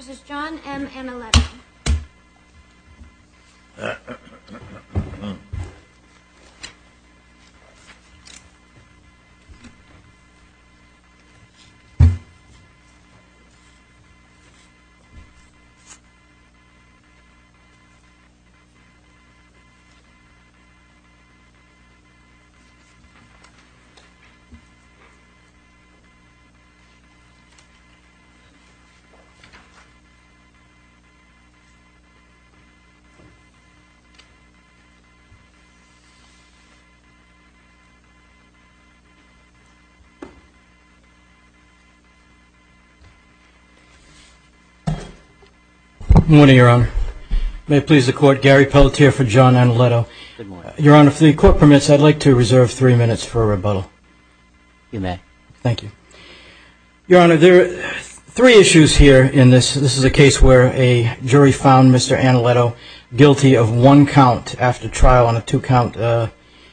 v. John M. Analetto Good morning, Your Honor. May it please the Court, Gary Pelletier for John Analetto. Good morning. Your Honor, if the Court permits, I'd like to reserve three minutes for a rebuttal. You may. Thank you. Your Honor, there are three issues here in this. This is a case where a jury found Mr. Analetto guilty of one count after trial on a two-count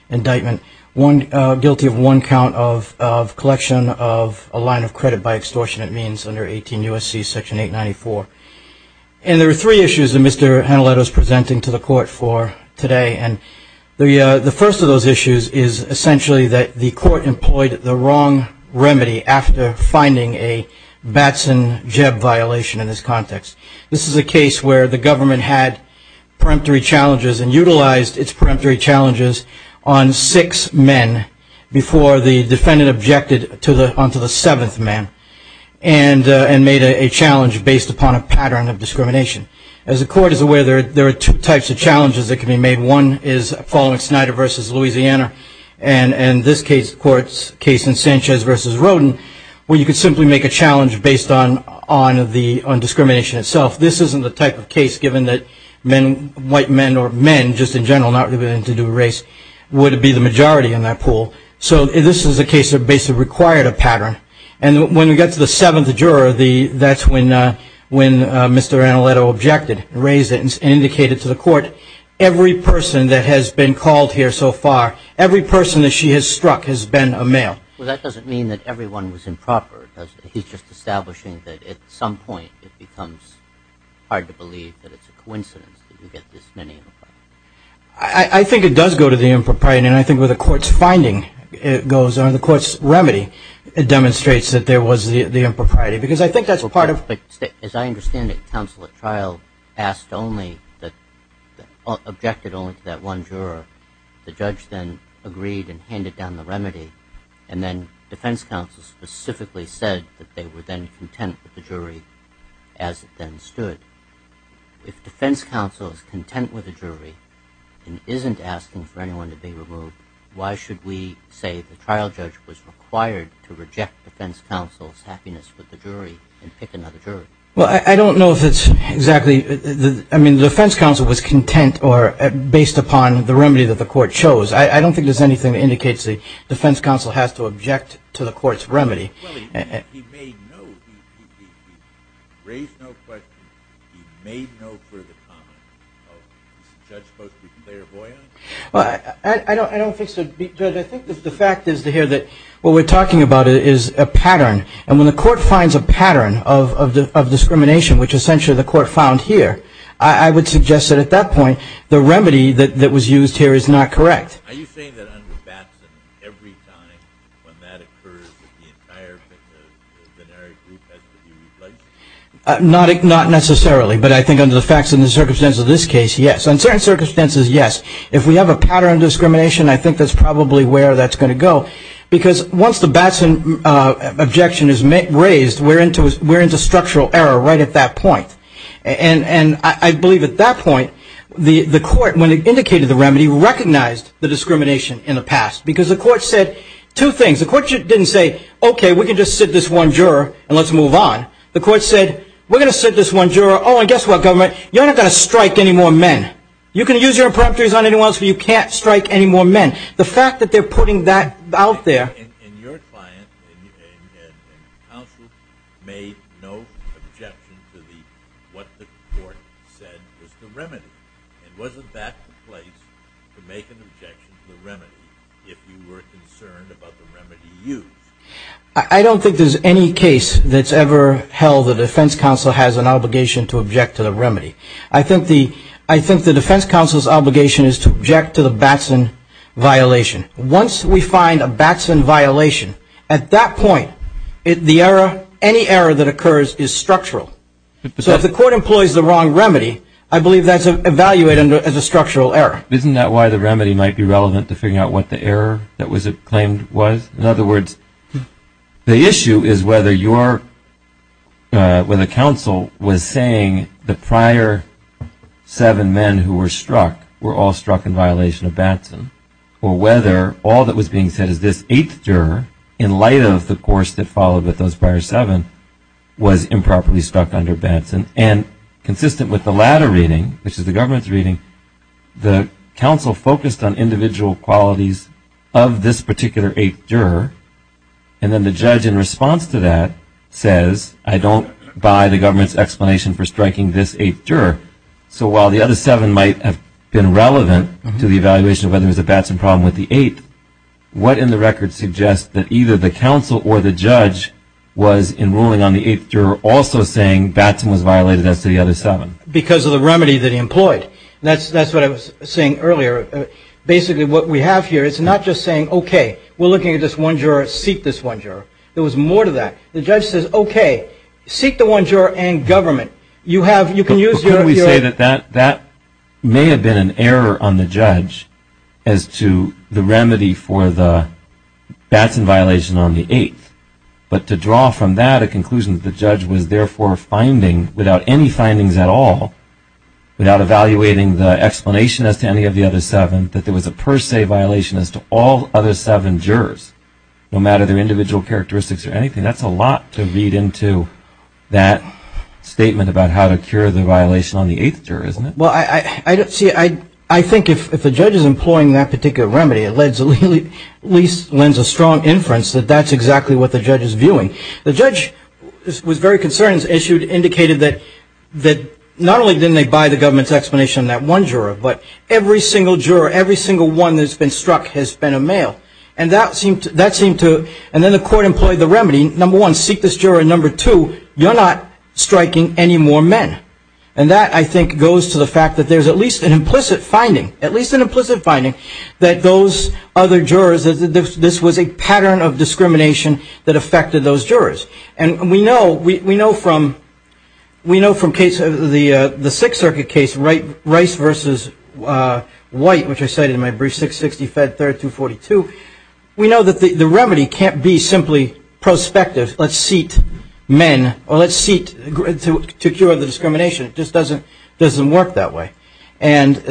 indictment, guilty of one count of collection of a line of credit by extortionate means under 18 U.S.C. section 894. And there are three issues that Mr. Analetto is presenting to the Court for today. And the first of those issues is essentially that the Court employed the wrong remedy after finding a Batson-Jebb violation in this context. This is a case where the government had peremptory challenges and utilized its peremptory challenges on six men before the defendant objected onto the seventh man and made a challenge based upon a pattern of discrimination. As the Court is aware, there are two types of challenges that can be made. One is following Snyder v. Louisiana, and in this case, the Court's case in Sanchez v. Rodin, where you could simply make a challenge based on discrimination itself. This isn't the type of case, given that white men or men just in general, not related to race, would be the majority in that pool. So this is a case that basically required a pattern. And when we get to the seventh juror, that's when Mr. Analetto objected, raised it, and indicated to the Court, every person that has been called here so far, every person that she has struck has been a male. Well, that doesn't mean that everyone was improper, does it? He's just establishing that at some point it becomes hard to believe that it's a coincidence that you get this many of them. I think it does go to the impropriety. And I think with the Court's finding, it goes on to the Court's remedy. It demonstrates that there was the impropriety, because I think that's part of it. As I understand it, counsel at trial asked only, objected only to that one juror. The judge then agreed and handed down the remedy, and then defense counsel specifically said that they were then content with the jury as it then stood. If defense counsel is content with the jury and isn't asking for anyone to be removed, why should we say the trial judge was required to reject defense counsel's happiness with the jury and pick another juror? Well, I don't know if it's exactly the – I mean, defense counsel was content or based upon the remedy that the Court chose. I don't think there's anything that indicates the defense counsel has to object to the Court's remedy. Well, he made no – he raised no questions. He made no further comments. Is the judge supposed to be clairvoyant? Well, I don't think so. Judge, I think the fact is to hear that what we're talking about is a pattern. And when the Court finds a pattern of discrimination, which essentially the Court found here, I would suggest that at that point the remedy that was used here is not correct. Are you saying that under Batson, every time when that occurs, the entire binary group has to be replaced? Not necessarily, but I think under the facts and the circumstances of this case, yes. Under certain circumstances, yes. If we have a pattern of discrimination, I think that's probably where that's going to go. Because once the Batson objection is raised, we're into structural error right at that point. And I believe at that point the Court, when it indicated the remedy, recognized the discrimination in the past. Because the Court said two things. The Court didn't say, okay, we can just sit this one juror and let's move on. The Court said, we're going to sit this one juror. Oh, and guess what, government? You're not going to strike any more men. You can use your impromptus on anyone else, but you can't strike any more men. The fact that they're putting that out there. And your client and counsel made no objection to what the Court said was the remedy and wasn't back to place to make an objection to the remedy if you were concerned about the remedy used. I don't think there's any case that's ever held the defense counsel has an obligation to object to the remedy. I think the defense counsel's obligation is to object to the Batson violation. Once we find a Batson violation, at that point, the error, any error that occurs is structural. So if the Court employs the wrong remedy, I believe that's evaluated as a structural error. Isn't that why the remedy might be relevant to figuring out what the error that was claimed was? In other words, the issue is whether you're, when the counsel was saying the prior seven men who were struck were all struck in violation of Batson, or whether all that was being said is this eighth juror, in light of the course that followed with those prior seven, was improperly struck under Batson. And consistent with the latter reading, which is the government's reading, the counsel focused on individual qualities of this particular eighth juror. And then the judge, in response to that, says, I don't buy the government's explanation for striking this eighth juror. So while the other seven might have been relevant to the evaluation of whether there was a Batson problem with the eighth, what in the record suggests that either the counsel or the judge was, in ruling on the eighth juror, also saying Batson was violated as to the other seven? Because of the remedy that he employed. That's what I was saying earlier. Basically, what we have here is not just saying, okay, we're looking at this one juror. Seek this one juror. There was more to that. The judge says, okay, seek the one juror and government. But couldn't we say that that may have been an error on the judge as to the remedy for the Batson violation on the eighth? But to draw from that a conclusion that the judge was therefore finding, without any findings at all, without evaluating the explanation as to any of the other seven, that there was a per se violation as to all other seven jurors, no matter their individual characteristics or anything. That's a lot to read into that statement about how to cure the violation on the eighth juror, isn't it? Well, see, I think if the judge is employing that particular remedy, it at least lends a strong inference that that's exactly what the judge is viewing. The judge was very concerned, as you indicated, that not only didn't they buy the government's explanation on that one juror, but every single juror, every single one that's been struck has been a male. And then the court employed the remedy, number one, seek this juror, and number two, you're not striking any more men. And that, I think, goes to the fact that there's at least an implicit finding, at least an implicit finding that those other jurors, this was a pattern of discrimination that affected those jurors. And we know from the Sixth Circuit case, Rice v. White, which I cited in my brief, 660, Fed 3rd, 242, we know that the remedy can't be simply prospective, let's seat men, or let's seat to cure the discrimination. It just doesn't work that way. And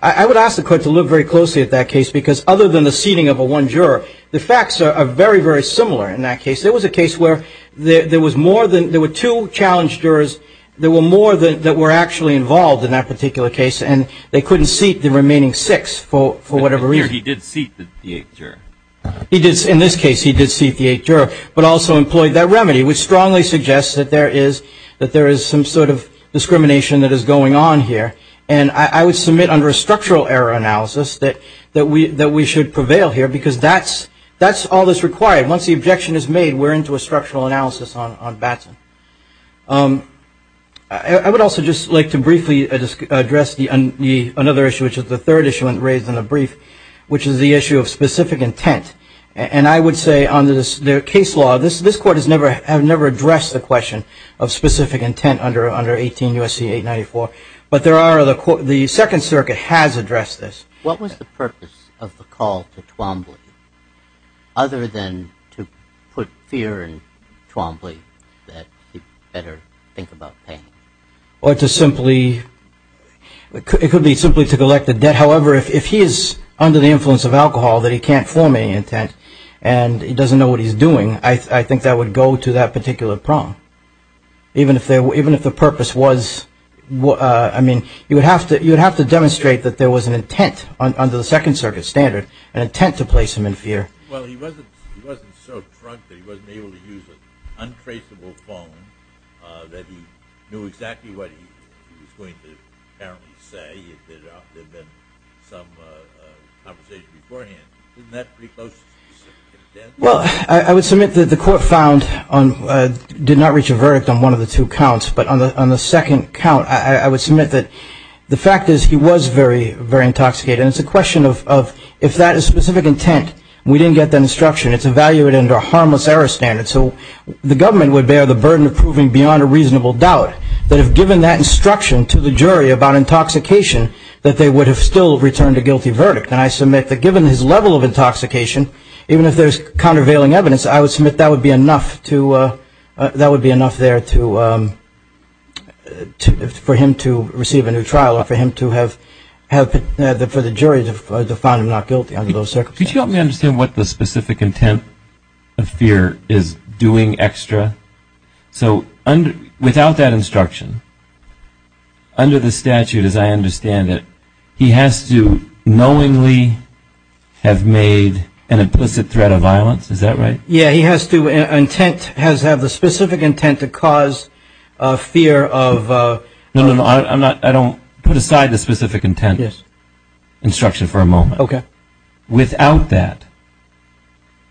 I would ask the court to look very closely at that case, because other than the seating of a one juror, the facts are very, very similar in that case. There was a case where there was more than, there were two challenged jurors, there were more that were actually involved in that particular case, and they couldn't seat the remaining six for whatever reason. He did seat the eighth juror. In this case, he did seat the eighth juror, but also employed that remedy, which strongly suggests that there is some sort of discrimination that is going on here. And I would submit under a structural error analysis that we should prevail here, because that's all that's required. Once the objection is made, we're into a structural analysis on Batson. I would also just like to briefly address another issue, which is the third issue raised in the brief, which is the issue of specific intent. And I would say on the case law, this Court has never addressed the question of specific intent under 18 U.S.C. 894, but the Second Circuit has addressed this. What was the purpose of the call to Twombly, other than to put fear in Twombly that he better think about paying? Or to simply, it could be simply to collect the debt. However, if he is under the influence of alcohol that he can't form any intent and he doesn't know what he's doing, I think that would go to that particular prong. Even if the purpose was, I mean, you would have to demonstrate that there was an intent, under the Second Circuit standard, an intent to place him in fear. Well, he wasn't so drunk that he wasn't able to use an untraceable phone, that he knew exactly what he was going to apparently say. There had been some conversation beforehand. Isn't that pretty close to specific intent? Well, I would submit that the Court found, did not reach a verdict on one of the two counts, but on the second count, I would submit that the fact is he was very, very intoxicated. And it's a question of if that is specific intent, we didn't get that instruction. It's evaluated under a harmless error standard. So the government would bear the burden of proving beyond a reasonable doubt that if given that instruction to the jury about intoxication, that they would have still returned a guilty verdict. And I submit that given his level of intoxication, even if there's countervailing evidence, I would submit that would be enough there for him to receive a new trial or for the jury to find him not guilty under those circumstances. Could you help me understand what the specific intent of fear is doing extra? So without that instruction, under the statute as I understand it, he has to knowingly have made an implicit threat of violence. Is that right? Yeah. He has to have the specific intent to cause fear of... No, no, no. I don't put aside the specific intent instruction for a moment. Okay. Without that,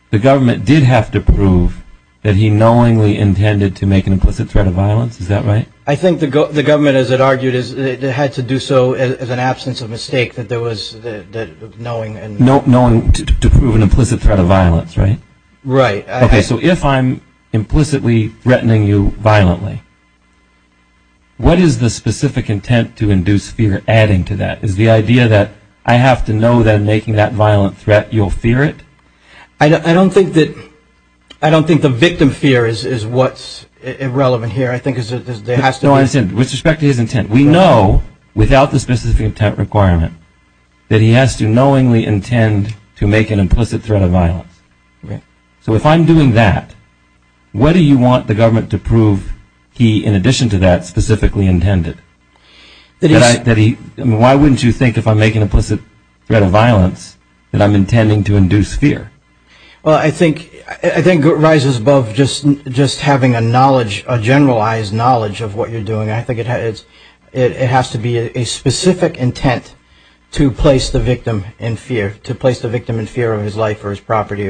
the government did have to prove that he knowingly intended to make an implicit threat of violence. Is that right? I think the government, as it argued, had to do so as an absence of mistake that there was knowing... To prove an implicit threat of violence, right? Right. Okay, so if I'm implicitly threatening you violently, what is the specific intent to induce fear adding to that? Is the idea that I have to know that I'm making that violent threat, you'll fear it? I don't think the victim fear is what's irrelevant here. I think there has to be... No, I understand. With respect to his intent, we know without the specific intent requirement that he has to knowingly intend to make an implicit threat of violence. So if I'm doing that, what do you want the government to prove he, in addition to that, specifically intended? Why wouldn't you think if I make an implicit threat of violence that I'm intending to induce fear? Well, I think it rises above just having a knowledge, a generalized knowledge of what you're doing. I think it has to be a specific intent to place the victim in fear, to place the victim in fear of his life or his property.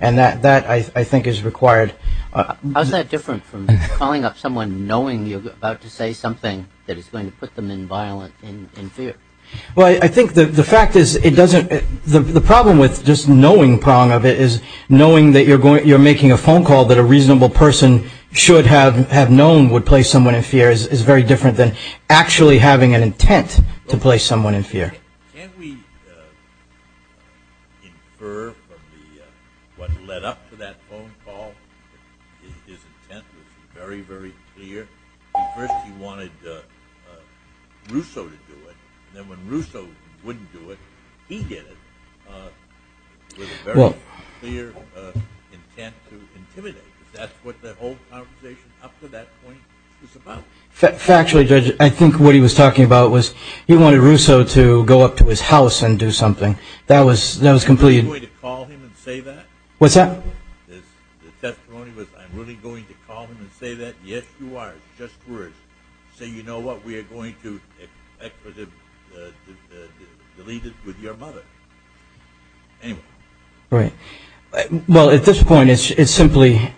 And that, I think, is required. How is that different from calling up someone knowing you're about to say something that is going to put them in fear? Well, I think the fact is it doesn't... The problem with just knowing prong of it is knowing that you're making a phone call that a reasonable person should have known would place someone in fear is very different than actually having an intent to place someone in fear. Can we infer from what led up to that phone call that his intent was very, very clear? At first he wanted Russo to do it. Then when Russo wouldn't do it, he did it. Well... With a very clear intent to intimidate. That's what the whole conversation up to that point was about. Factually, Judge, I think what he was talking about was he wanted Russo to go up to his house and do something. That was completely... Am I really going to call him and say that? What's that? The testimony was, am I really going to call him and say that? Yes, you are. Just words. Say, you know what, we are going to delete it with your mother. Anyway. Right. Well, at this point it's simply,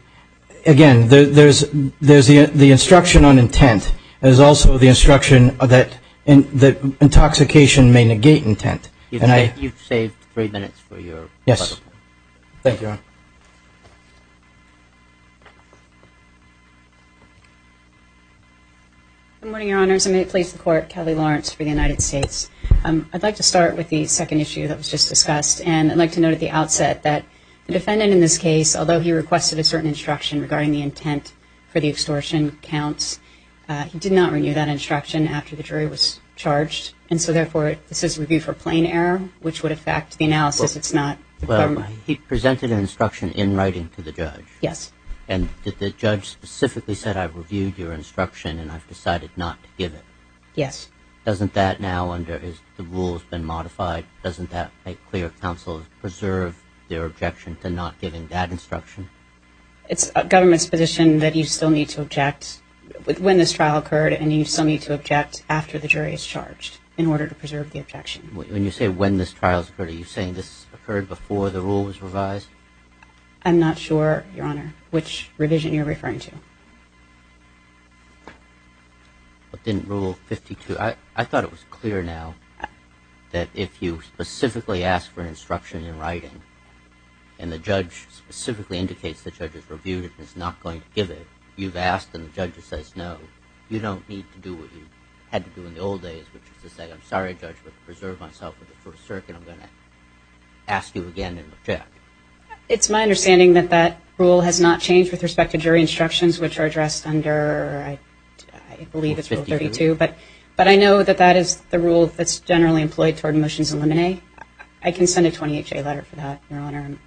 again, there's the instruction on intent. There's also the instruction that intoxication may negate intent. Yes. Thank you, Your Honor. Good morning, Your Honors. I'm going to place the court Kelly Lawrence for the United States. I'd like to start with the second issue that was just discussed. And I'd like to note at the outset that the defendant in this case, although he requested a certain instruction regarding the intent for the extortion counts, he did not renew that instruction after the jury was charged. And so, therefore, this is review for plain error, which would affect the analysis. Well, he presented an instruction in writing to the judge. Yes. And the judge specifically said, I've reviewed your instruction and I've decided not to give it. Yes. Doesn't that now, under the rules that have been modified, doesn't that make clear counsel to preserve their objection to not giving that instruction? It's government's position that you still need to object when this trial occurred and you still need to object after the jury is charged in order to preserve the objection. When you say when this trial occurred, are you saying this occurred before the rule was revised? I'm not sure, Your Honor, which revision you're referring to. It didn't rule 52. I thought it was clear now that if you specifically ask for instruction in writing and the judge specifically indicates the judge has reviewed it and is not going to give it, you've asked and the judge says no. You don't need to do what you had to do in the old days, which is to say, I'm sorry, Judge, but to preserve myself for the first circuit, I'm going to ask you again and object. It's my understanding that that rule has not changed with respect to jury instructions, which are addressed under, I believe it's rule 32. Rule 52. But I know that that is the rule that's generally employed toward motions in limine. I can send a 28-J letter for that, Your Honor.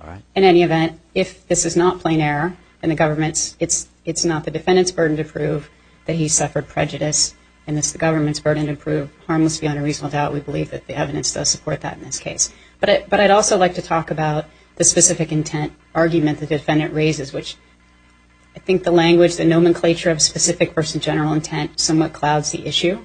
All right. In any event, if this is not plain error in the government's, it's not the defendant's burden to prove that he suffered prejudice, and it's the government's burden to prove harmless beyond a reasonable doubt. We believe that the evidence does support that in this case. But I'd also like to talk about the specific intent argument the defendant raises, which I think the language, the nomenclature of specific versus general intent somewhat clouds the issue.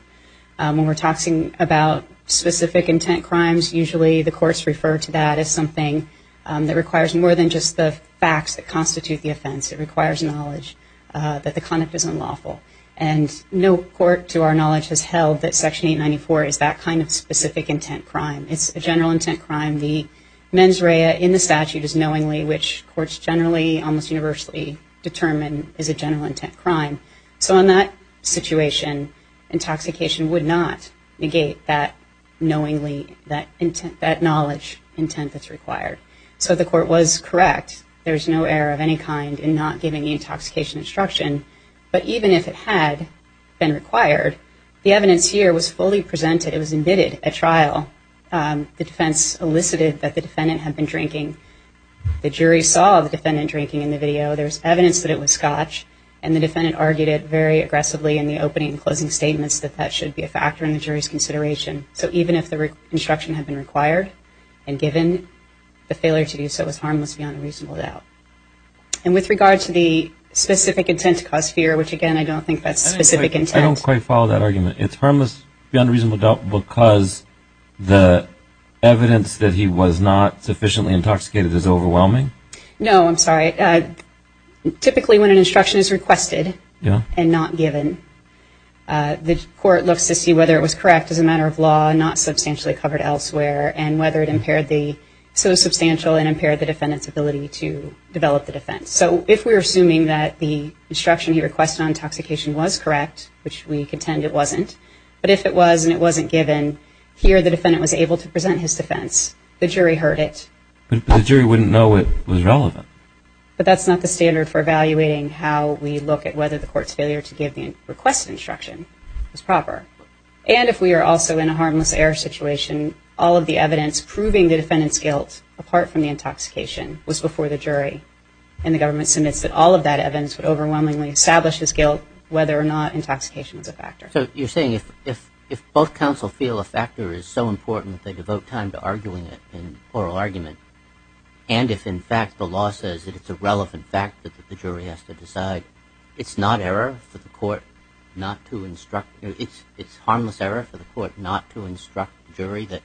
When we're talking about specific intent crimes, usually the courts refer to that as something that requires more than just the facts that constitute the offense. It requires knowledge that the conduct is unlawful. And no court, to our knowledge, has held that Section 894 is that kind of specific intent crime. It's a general intent crime. The mens rea in the statute is knowingly, which courts generally almost universally determine is a general intent crime. So in that situation, intoxication would not negate that knowingly, that knowledge intent that's required. So the court was correct. There is no error of any kind in not giving the intoxication instruction. But even if it had been required, the evidence here was fully presented. It was admitted at trial. The defense elicited that the defendant had been drinking. The jury saw the defendant drinking in the video. There was evidence that it was scotch, and the defendant argued it very aggressively in the opening and closing statements that that should be a factor in the jury's consideration. So even if the instruction had been required, and given, the failure to do so was harmless beyond a reasonable doubt. And with regard to the specific intent to cause fear, which, again, I don't think that's specific intent. I don't quite follow that argument. It's harmless beyond a reasonable doubt because the evidence that he was not sufficiently intoxicated is overwhelming? No, I'm sorry. Typically when an instruction is requested and not given, the court looks to see whether it was correct as a matter of law and not substantially covered elsewhere. And whether it impaired the so substantial and impaired the defendant's ability to develop the defense. So if we're assuming that the instruction he requested on intoxication was correct, which we contend it wasn't, but if it was and it wasn't given, here the defendant was able to present his defense. The jury heard it. But the jury wouldn't know it was relevant. But that's not the standard for evaluating how we look at whether the court's failure to give the requested instruction was proper. And if we are also in a harmless error situation, all of the evidence proving the defendant's guilt, apart from the intoxication, was before the jury. And the government submits that all of that evidence would overwhelmingly establish his guilt, whether or not intoxication was a factor. So you're saying if both counsel feel a factor is so important that they devote time to arguing it in oral argument, and if, in fact, the law says that it's a relevant fact that the jury has to decide, it's not error for the court not to instruct, it's harmless error for the court not to instruct the jury that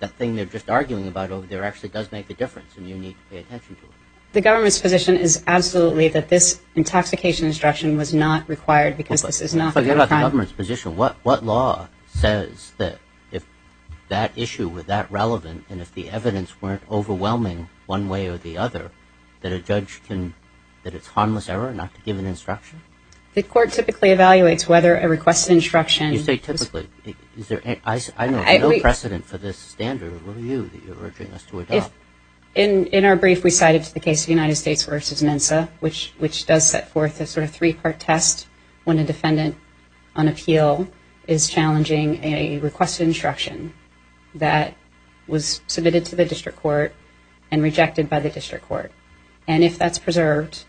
that thing they're just arguing about over there actually does make a difference and you need to pay attention to it? The government's position is absolutely that this intoxication instruction was not required because this is not a crime. Forget about the government's position. What law says that if that issue were that relevant and if the evidence weren't overwhelming one way or the other, that a judge can, that it's harmless error not to give an instruction? The court typically evaluates whether a requested instruction... You say typically. Is there, I know, no precedent for this standard. What are you, that you're urging us to adopt? In our brief, we cited the case of the United States versus MNSA, which does set forth a sort of three-part test when a defendant on appeal is challenging a requested instruction that was submitted to the district court and rejected by the district court. And if that's preserved,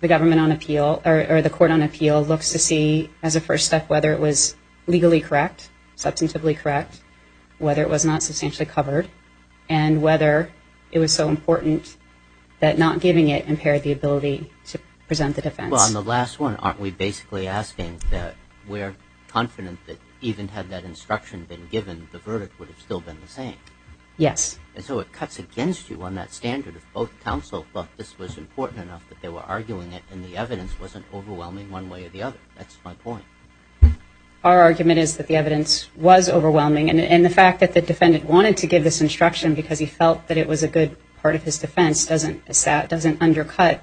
the government on appeal, or the court on appeal looks to see as a first step whether it was legally correct, substantively correct, whether it was not substantially covered, and whether it was so important that not giving it impaired the ability to present the defense. Well, on the last one, aren't we basically asking that we're confident that even had that instruction been given, the verdict would have still been the same? Yes. And so it cuts against you on that standard if both counsel thought this was important enough that they were arguing it and the evidence wasn't overwhelming one way or the other. That's my point. Our argument is that the evidence was overwhelming, and the fact that the defendant wanted to give this instruction because he felt that it was a good part of his defense doesn't undercut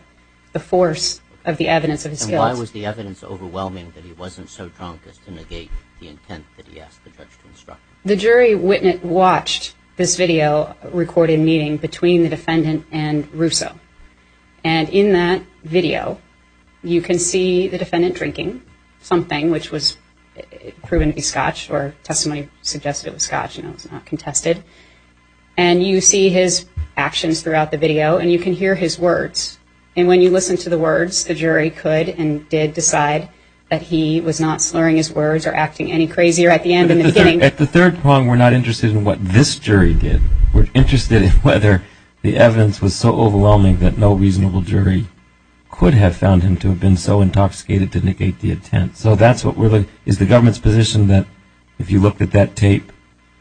the force of the evidence of his guilt. Why was the evidence overwhelming that he wasn't so drunk as to negate the intent that he asked the judge to instruct him? The jury watched this video recorded meeting between the defendant and Russo. And in that video, you can see the defendant drinking something which was proven to be scotch, or testimony suggested it was scotch and it was not contested. And you see his actions throughout the video, and you can hear his words. And when you listen to the words, the jury could and did decide that he was not slurring his words or acting any crazier at the end than the beginning. At the third point, we're not interested in what this jury did. We're interested in whether the evidence was so overwhelming that no reasonable jury could have found him to have been so intoxicated to negate the intent. So that's what really is the government's position, that if you looked at that tape,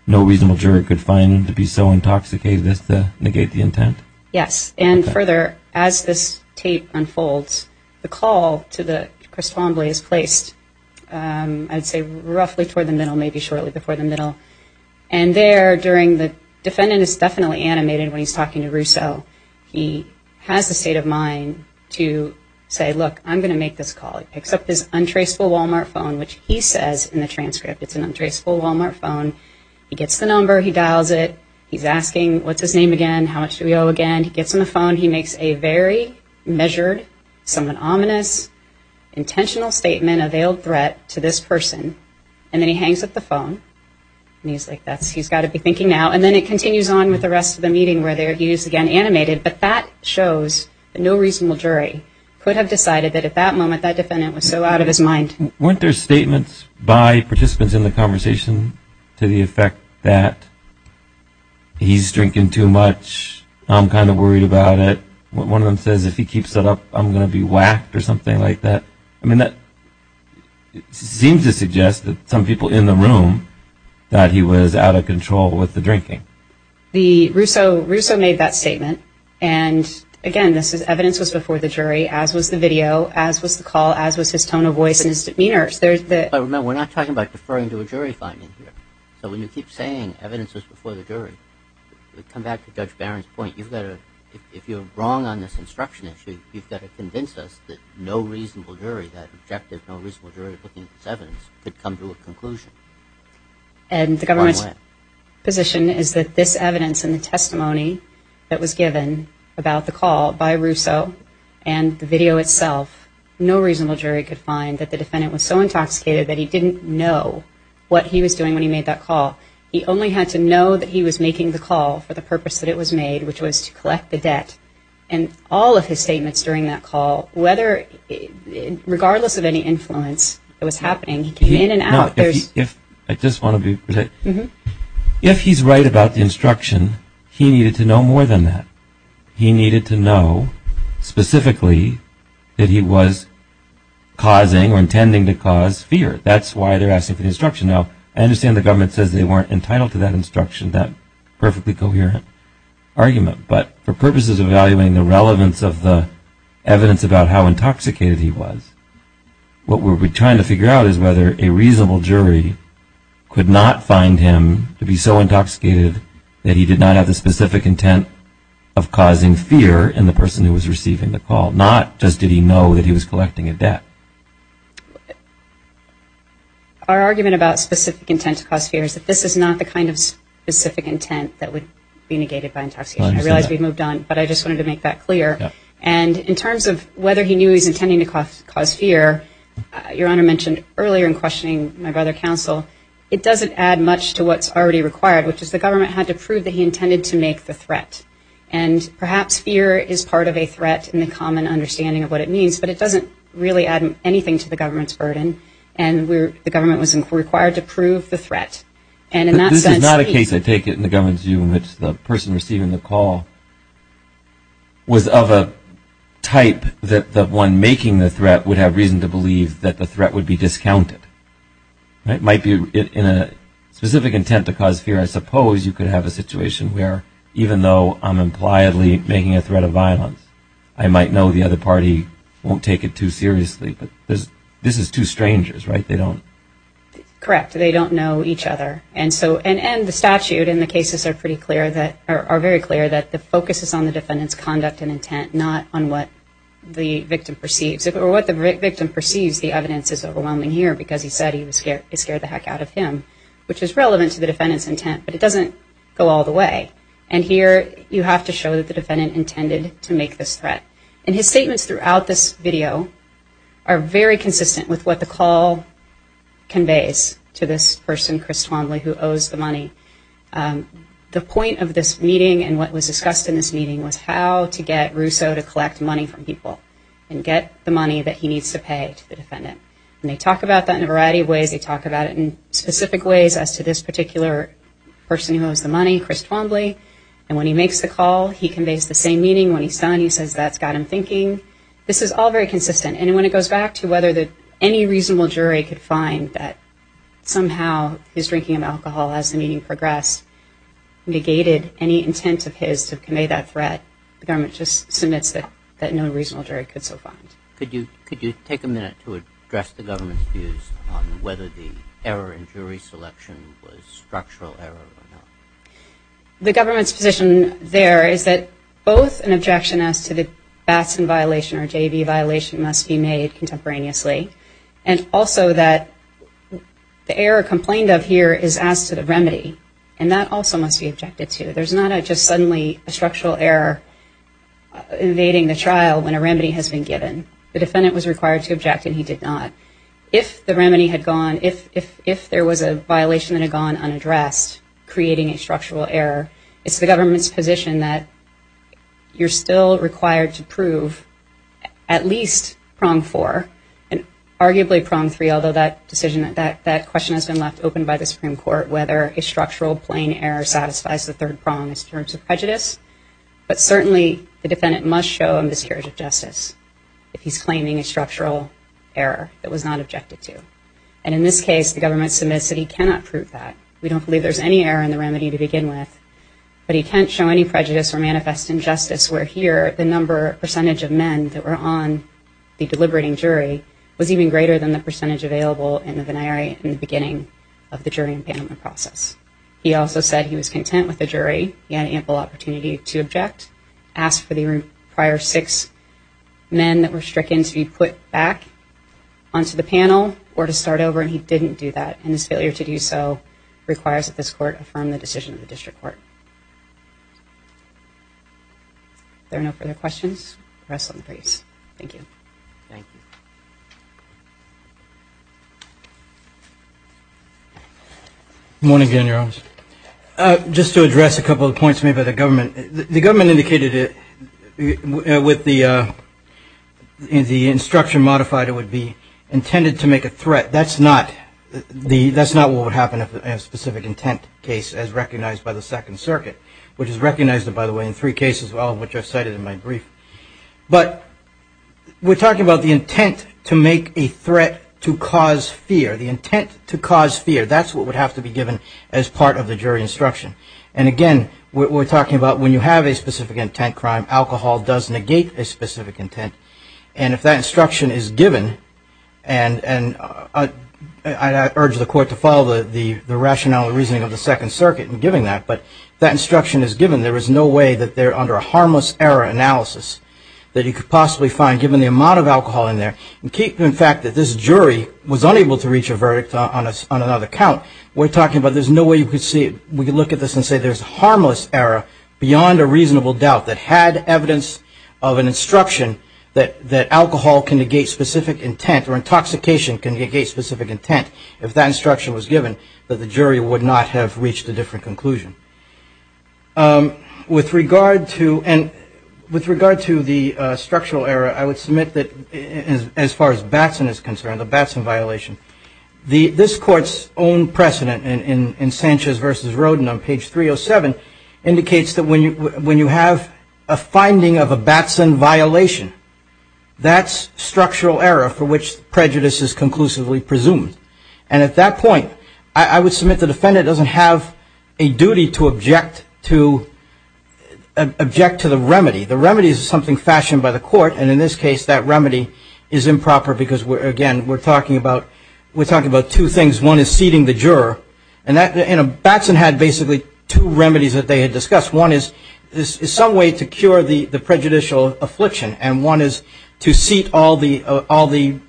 no reasonable jury could find him to be so intoxicated as to negate the intent? Yes. And further, as this tape unfolds, the call to the correspondents is placed, I'd say, roughly toward the middle, maybe shortly before the middle. And there, during the defendant is definitely animated when he's talking to Russo, he has the state of mind to say, look, I'm going to make this call. He picks up his untraceable Walmart phone, which he says in the transcript it's an untraceable Walmart phone. He gets the number. He dials it. He's asking what's his name again, how much do we owe again. He gets on the phone. He makes a very measured, somewhat ominous, intentional statement, a veiled threat to this person. And then he hangs up the phone. And he's like, he's got to be thinking now. And then it continues on with the rest of the meeting where he is again animated. But that shows that no reasonable jury could have decided that at that moment that defendant was so out of his mind. Weren't there statements by participants in the conversation to the effect that he's drinking too much, I'm kind of worried about it. One of them says if he keeps it up, I'm going to be whacked or something like that. I mean, that seems to suggest that some people in the room thought he was out of control with the drinking. Russo made that statement. And, again, this is evidence was before the jury, as was the video, as was the call, as was his tone of voice and his demeanor. Remember, we're not talking about deferring to a jury finding here. So when you keep saying evidence was before the jury, come back to Judge Barron's point. If you're wrong on this instruction issue, you've got to convince us that no reasonable jury, that objective no reasonable jury looking at this evidence could come to a conclusion. And the government's position is that this evidence and the testimony that was given about the call by Russo and the video itself, no reasonable jury could find that the defendant was so intoxicated that he didn't know what he was doing when he made that call. He only had to know that he was making the call for the purpose that it was made, which was to collect the debt. And all of his statements during that call, regardless of any influence that was happening, he came in and out. If he's right about the instruction, he needed to know more than that. He needed to know specifically that he was causing or intending to cause fear. That's why they're asking for the instruction. Now, I understand the government says they weren't entitled to that instruction, that perfectly coherent argument. But for purposes of evaluating the relevance of the evidence about how intoxicated he was, what we're trying to figure out is whether a reasonable jury could not find him to be so intoxicated that he did not have the specific intent of causing fear in the person who was receiving the call, not just did he know that he was collecting a debt. Our argument about specific intent to cause fear is that this is not the kind of specific intent that would be negated by intoxication. I realize we've moved on, but I just wanted to make that clear. And in terms of whether he knew he was intending to cause fear, Your Honor mentioned earlier in questioning my brother counsel, it doesn't add much to what's already required, which is the government had to prove that he intended to make the threat. And perhaps fear is part of a threat in the common understanding of what it means, but it doesn't really add anything to the government's burden, and the government was required to prove the threat. And in that sense, he- This is not a case, I take it, in the government's view in which the person receiving the call was of a type that the one making the threat would have reason to believe that the threat would be discounted. It might be in a specific intent to cause fear. I suppose you could have a situation where even though I'm impliedly making a threat of violence, I might know the other party won't take it too seriously. But this is two strangers, right? They don't- Correct. They don't know each other. And the statute and the cases are very clear that the focus is on the defendant's conduct and intent, not on what the victim perceives. The evidence is overwhelming here because he said he was scared the heck out of him, which is relevant to the defendant's intent, but it doesn't go all the way. And here you have to show that the defendant intended to make this threat. And his statements throughout this video are very consistent with what the call conveys to this person, Chris Twombly, who owes the money. The point of this meeting and what was discussed in this meeting was how to get Russo to collect money from people and get the money that he needs to pay to the defendant. And they talk about that in a variety of ways. They talk about it in specific ways as to this particular person who owes the money, Chris Twombly. And when he makes the call, he conveys the same meaning. When he's done, he says that's got him thinking. This is all very consistent. And when it goes back to whether any reasonable jury could find that somehow his drinking of alcohol, as the meeting progressed, negated any intent of his to convey that threat, the government just submits that no reasonable jury could so find. Could you take a minute to address the government's views on whether the error in jury selection was structural error or not? The government's position there is that both an objection as to the Batson violation or JV violation must be made contemporaneously, and also that the error complained of here is as to the remedy, and that also must be objected to. There's not just suddenly a structural error evading the trial when a remedy has been given. The defendant was required to object, and he did not. If the remedy had gone, if there was a violation that had gone unaddressed creating a structural error, it's the government's position that you're still required to prove at least prong four, and arguably prong three, although that question has been left open by the Supreme Court, whether a structural plain error satisfies the third prong in terms of prejudice, but certainly the defendant must show a miscarriage of justice if he's claiming a structural error that was not objected to. And in this case, the government submits that he cannot prove that. We don't believe there's any error in the remedy to begin with, but he can't show any prejudice or manifest injustice where here the number, percentage of men that were on the deliberating jury was even greater than the percentage available in the venire in the beginning of the jury and paneling process. He also said he was content with the jury. He had ample opportunity to object, ask for the prior six men that were stricken to be put back onto the panel or to start over, and he didn't do that. And his failure to do so requires that this court affirm the decision of the district court. There are no further questions. Rest in peace. Thank you. Thank you. Morning, General. Just to address a couple of points made by the government. The government indicated with the instruction modified it would be intended to make a threat. That's not what would happen in a specific intent case as recognized by the Second Circuit, which is recognized, by the way, in three cases, all of which I've cited in my brief. But we're talking about the intent to make a threat to cause fear, the intent to cause fear. That's what would have to be given as part of the jury instruction. And, again, we're talking about when you have a specific intent crime, alcohol does negate a specific intent. And if that instruction is given, and I urge the court to follow the rationale and reasoning of the Second Circuit in giving that, but if that instruction is given, there is no way that they're under a harmless error analysis that you could possibly find, given the amount of alcohol in there. In fact, that this jury was unable to reach a verdict on another count, we're talking about there's no way you could see it. We could look at this and say there's a harmless error beyond a reasonable doubt that had evidence of an instruction that alcohol can negate specific intent or intoxication can negate specific intent. If that instruction was given, the jury would not have reached a different conclusion. With regard to the structural error, I would submit that, as far as Batson is concerned, the Batson violation, this Court's own precedent in Sanchez v. Rodin on page 307 indicates that when you have a finding of a Batson violation, that's structural error for which prejudice is conclusively presumed. And at that point, I would submit the defendant doesn't have a duty to object to the remedy. The remedy is something fashioned by the court, and in this case that remedy is improper because, again, we're talking about two things. One is seating the juror, and Batson had basically two remedies that they had discussed. One is some way to cure the prejudicial affliction, and one is to seat all the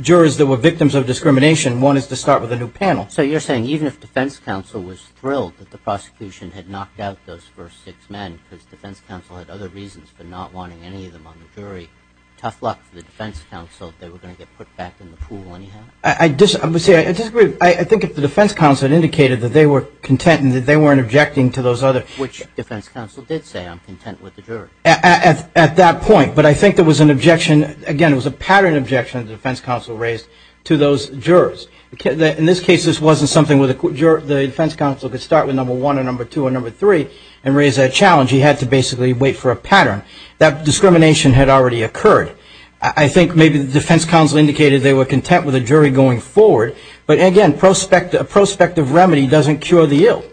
jurors that were victims of discrimination. One is to start with a new panel. So you're saying even if defense counsel was thrilled that the prosecution had knocked out those first six men because defense counsel had other reasons for not wanting any of them on the jury, tough luck for the defense counsel if they were going to get put back in the pool anyhow? I disagree. I think if the defense counsel had indicated that they were content and that they weren't objecting to those others. Which defense counsel did say, I'm content with the jury. At that point, but I think there was an objection. Again, it was a pattern objection that the defense counsel raised to those jurors. In this case, this wasn't something where the defense counsel could start with number one or number two or number three and raise that challenge. He had to basically wait for a pattern. That discrimination had already occurred. I think maybe the defense counsel indicated they were content with the jury going forward. But again, a prospective remedy doesn't cure the ill.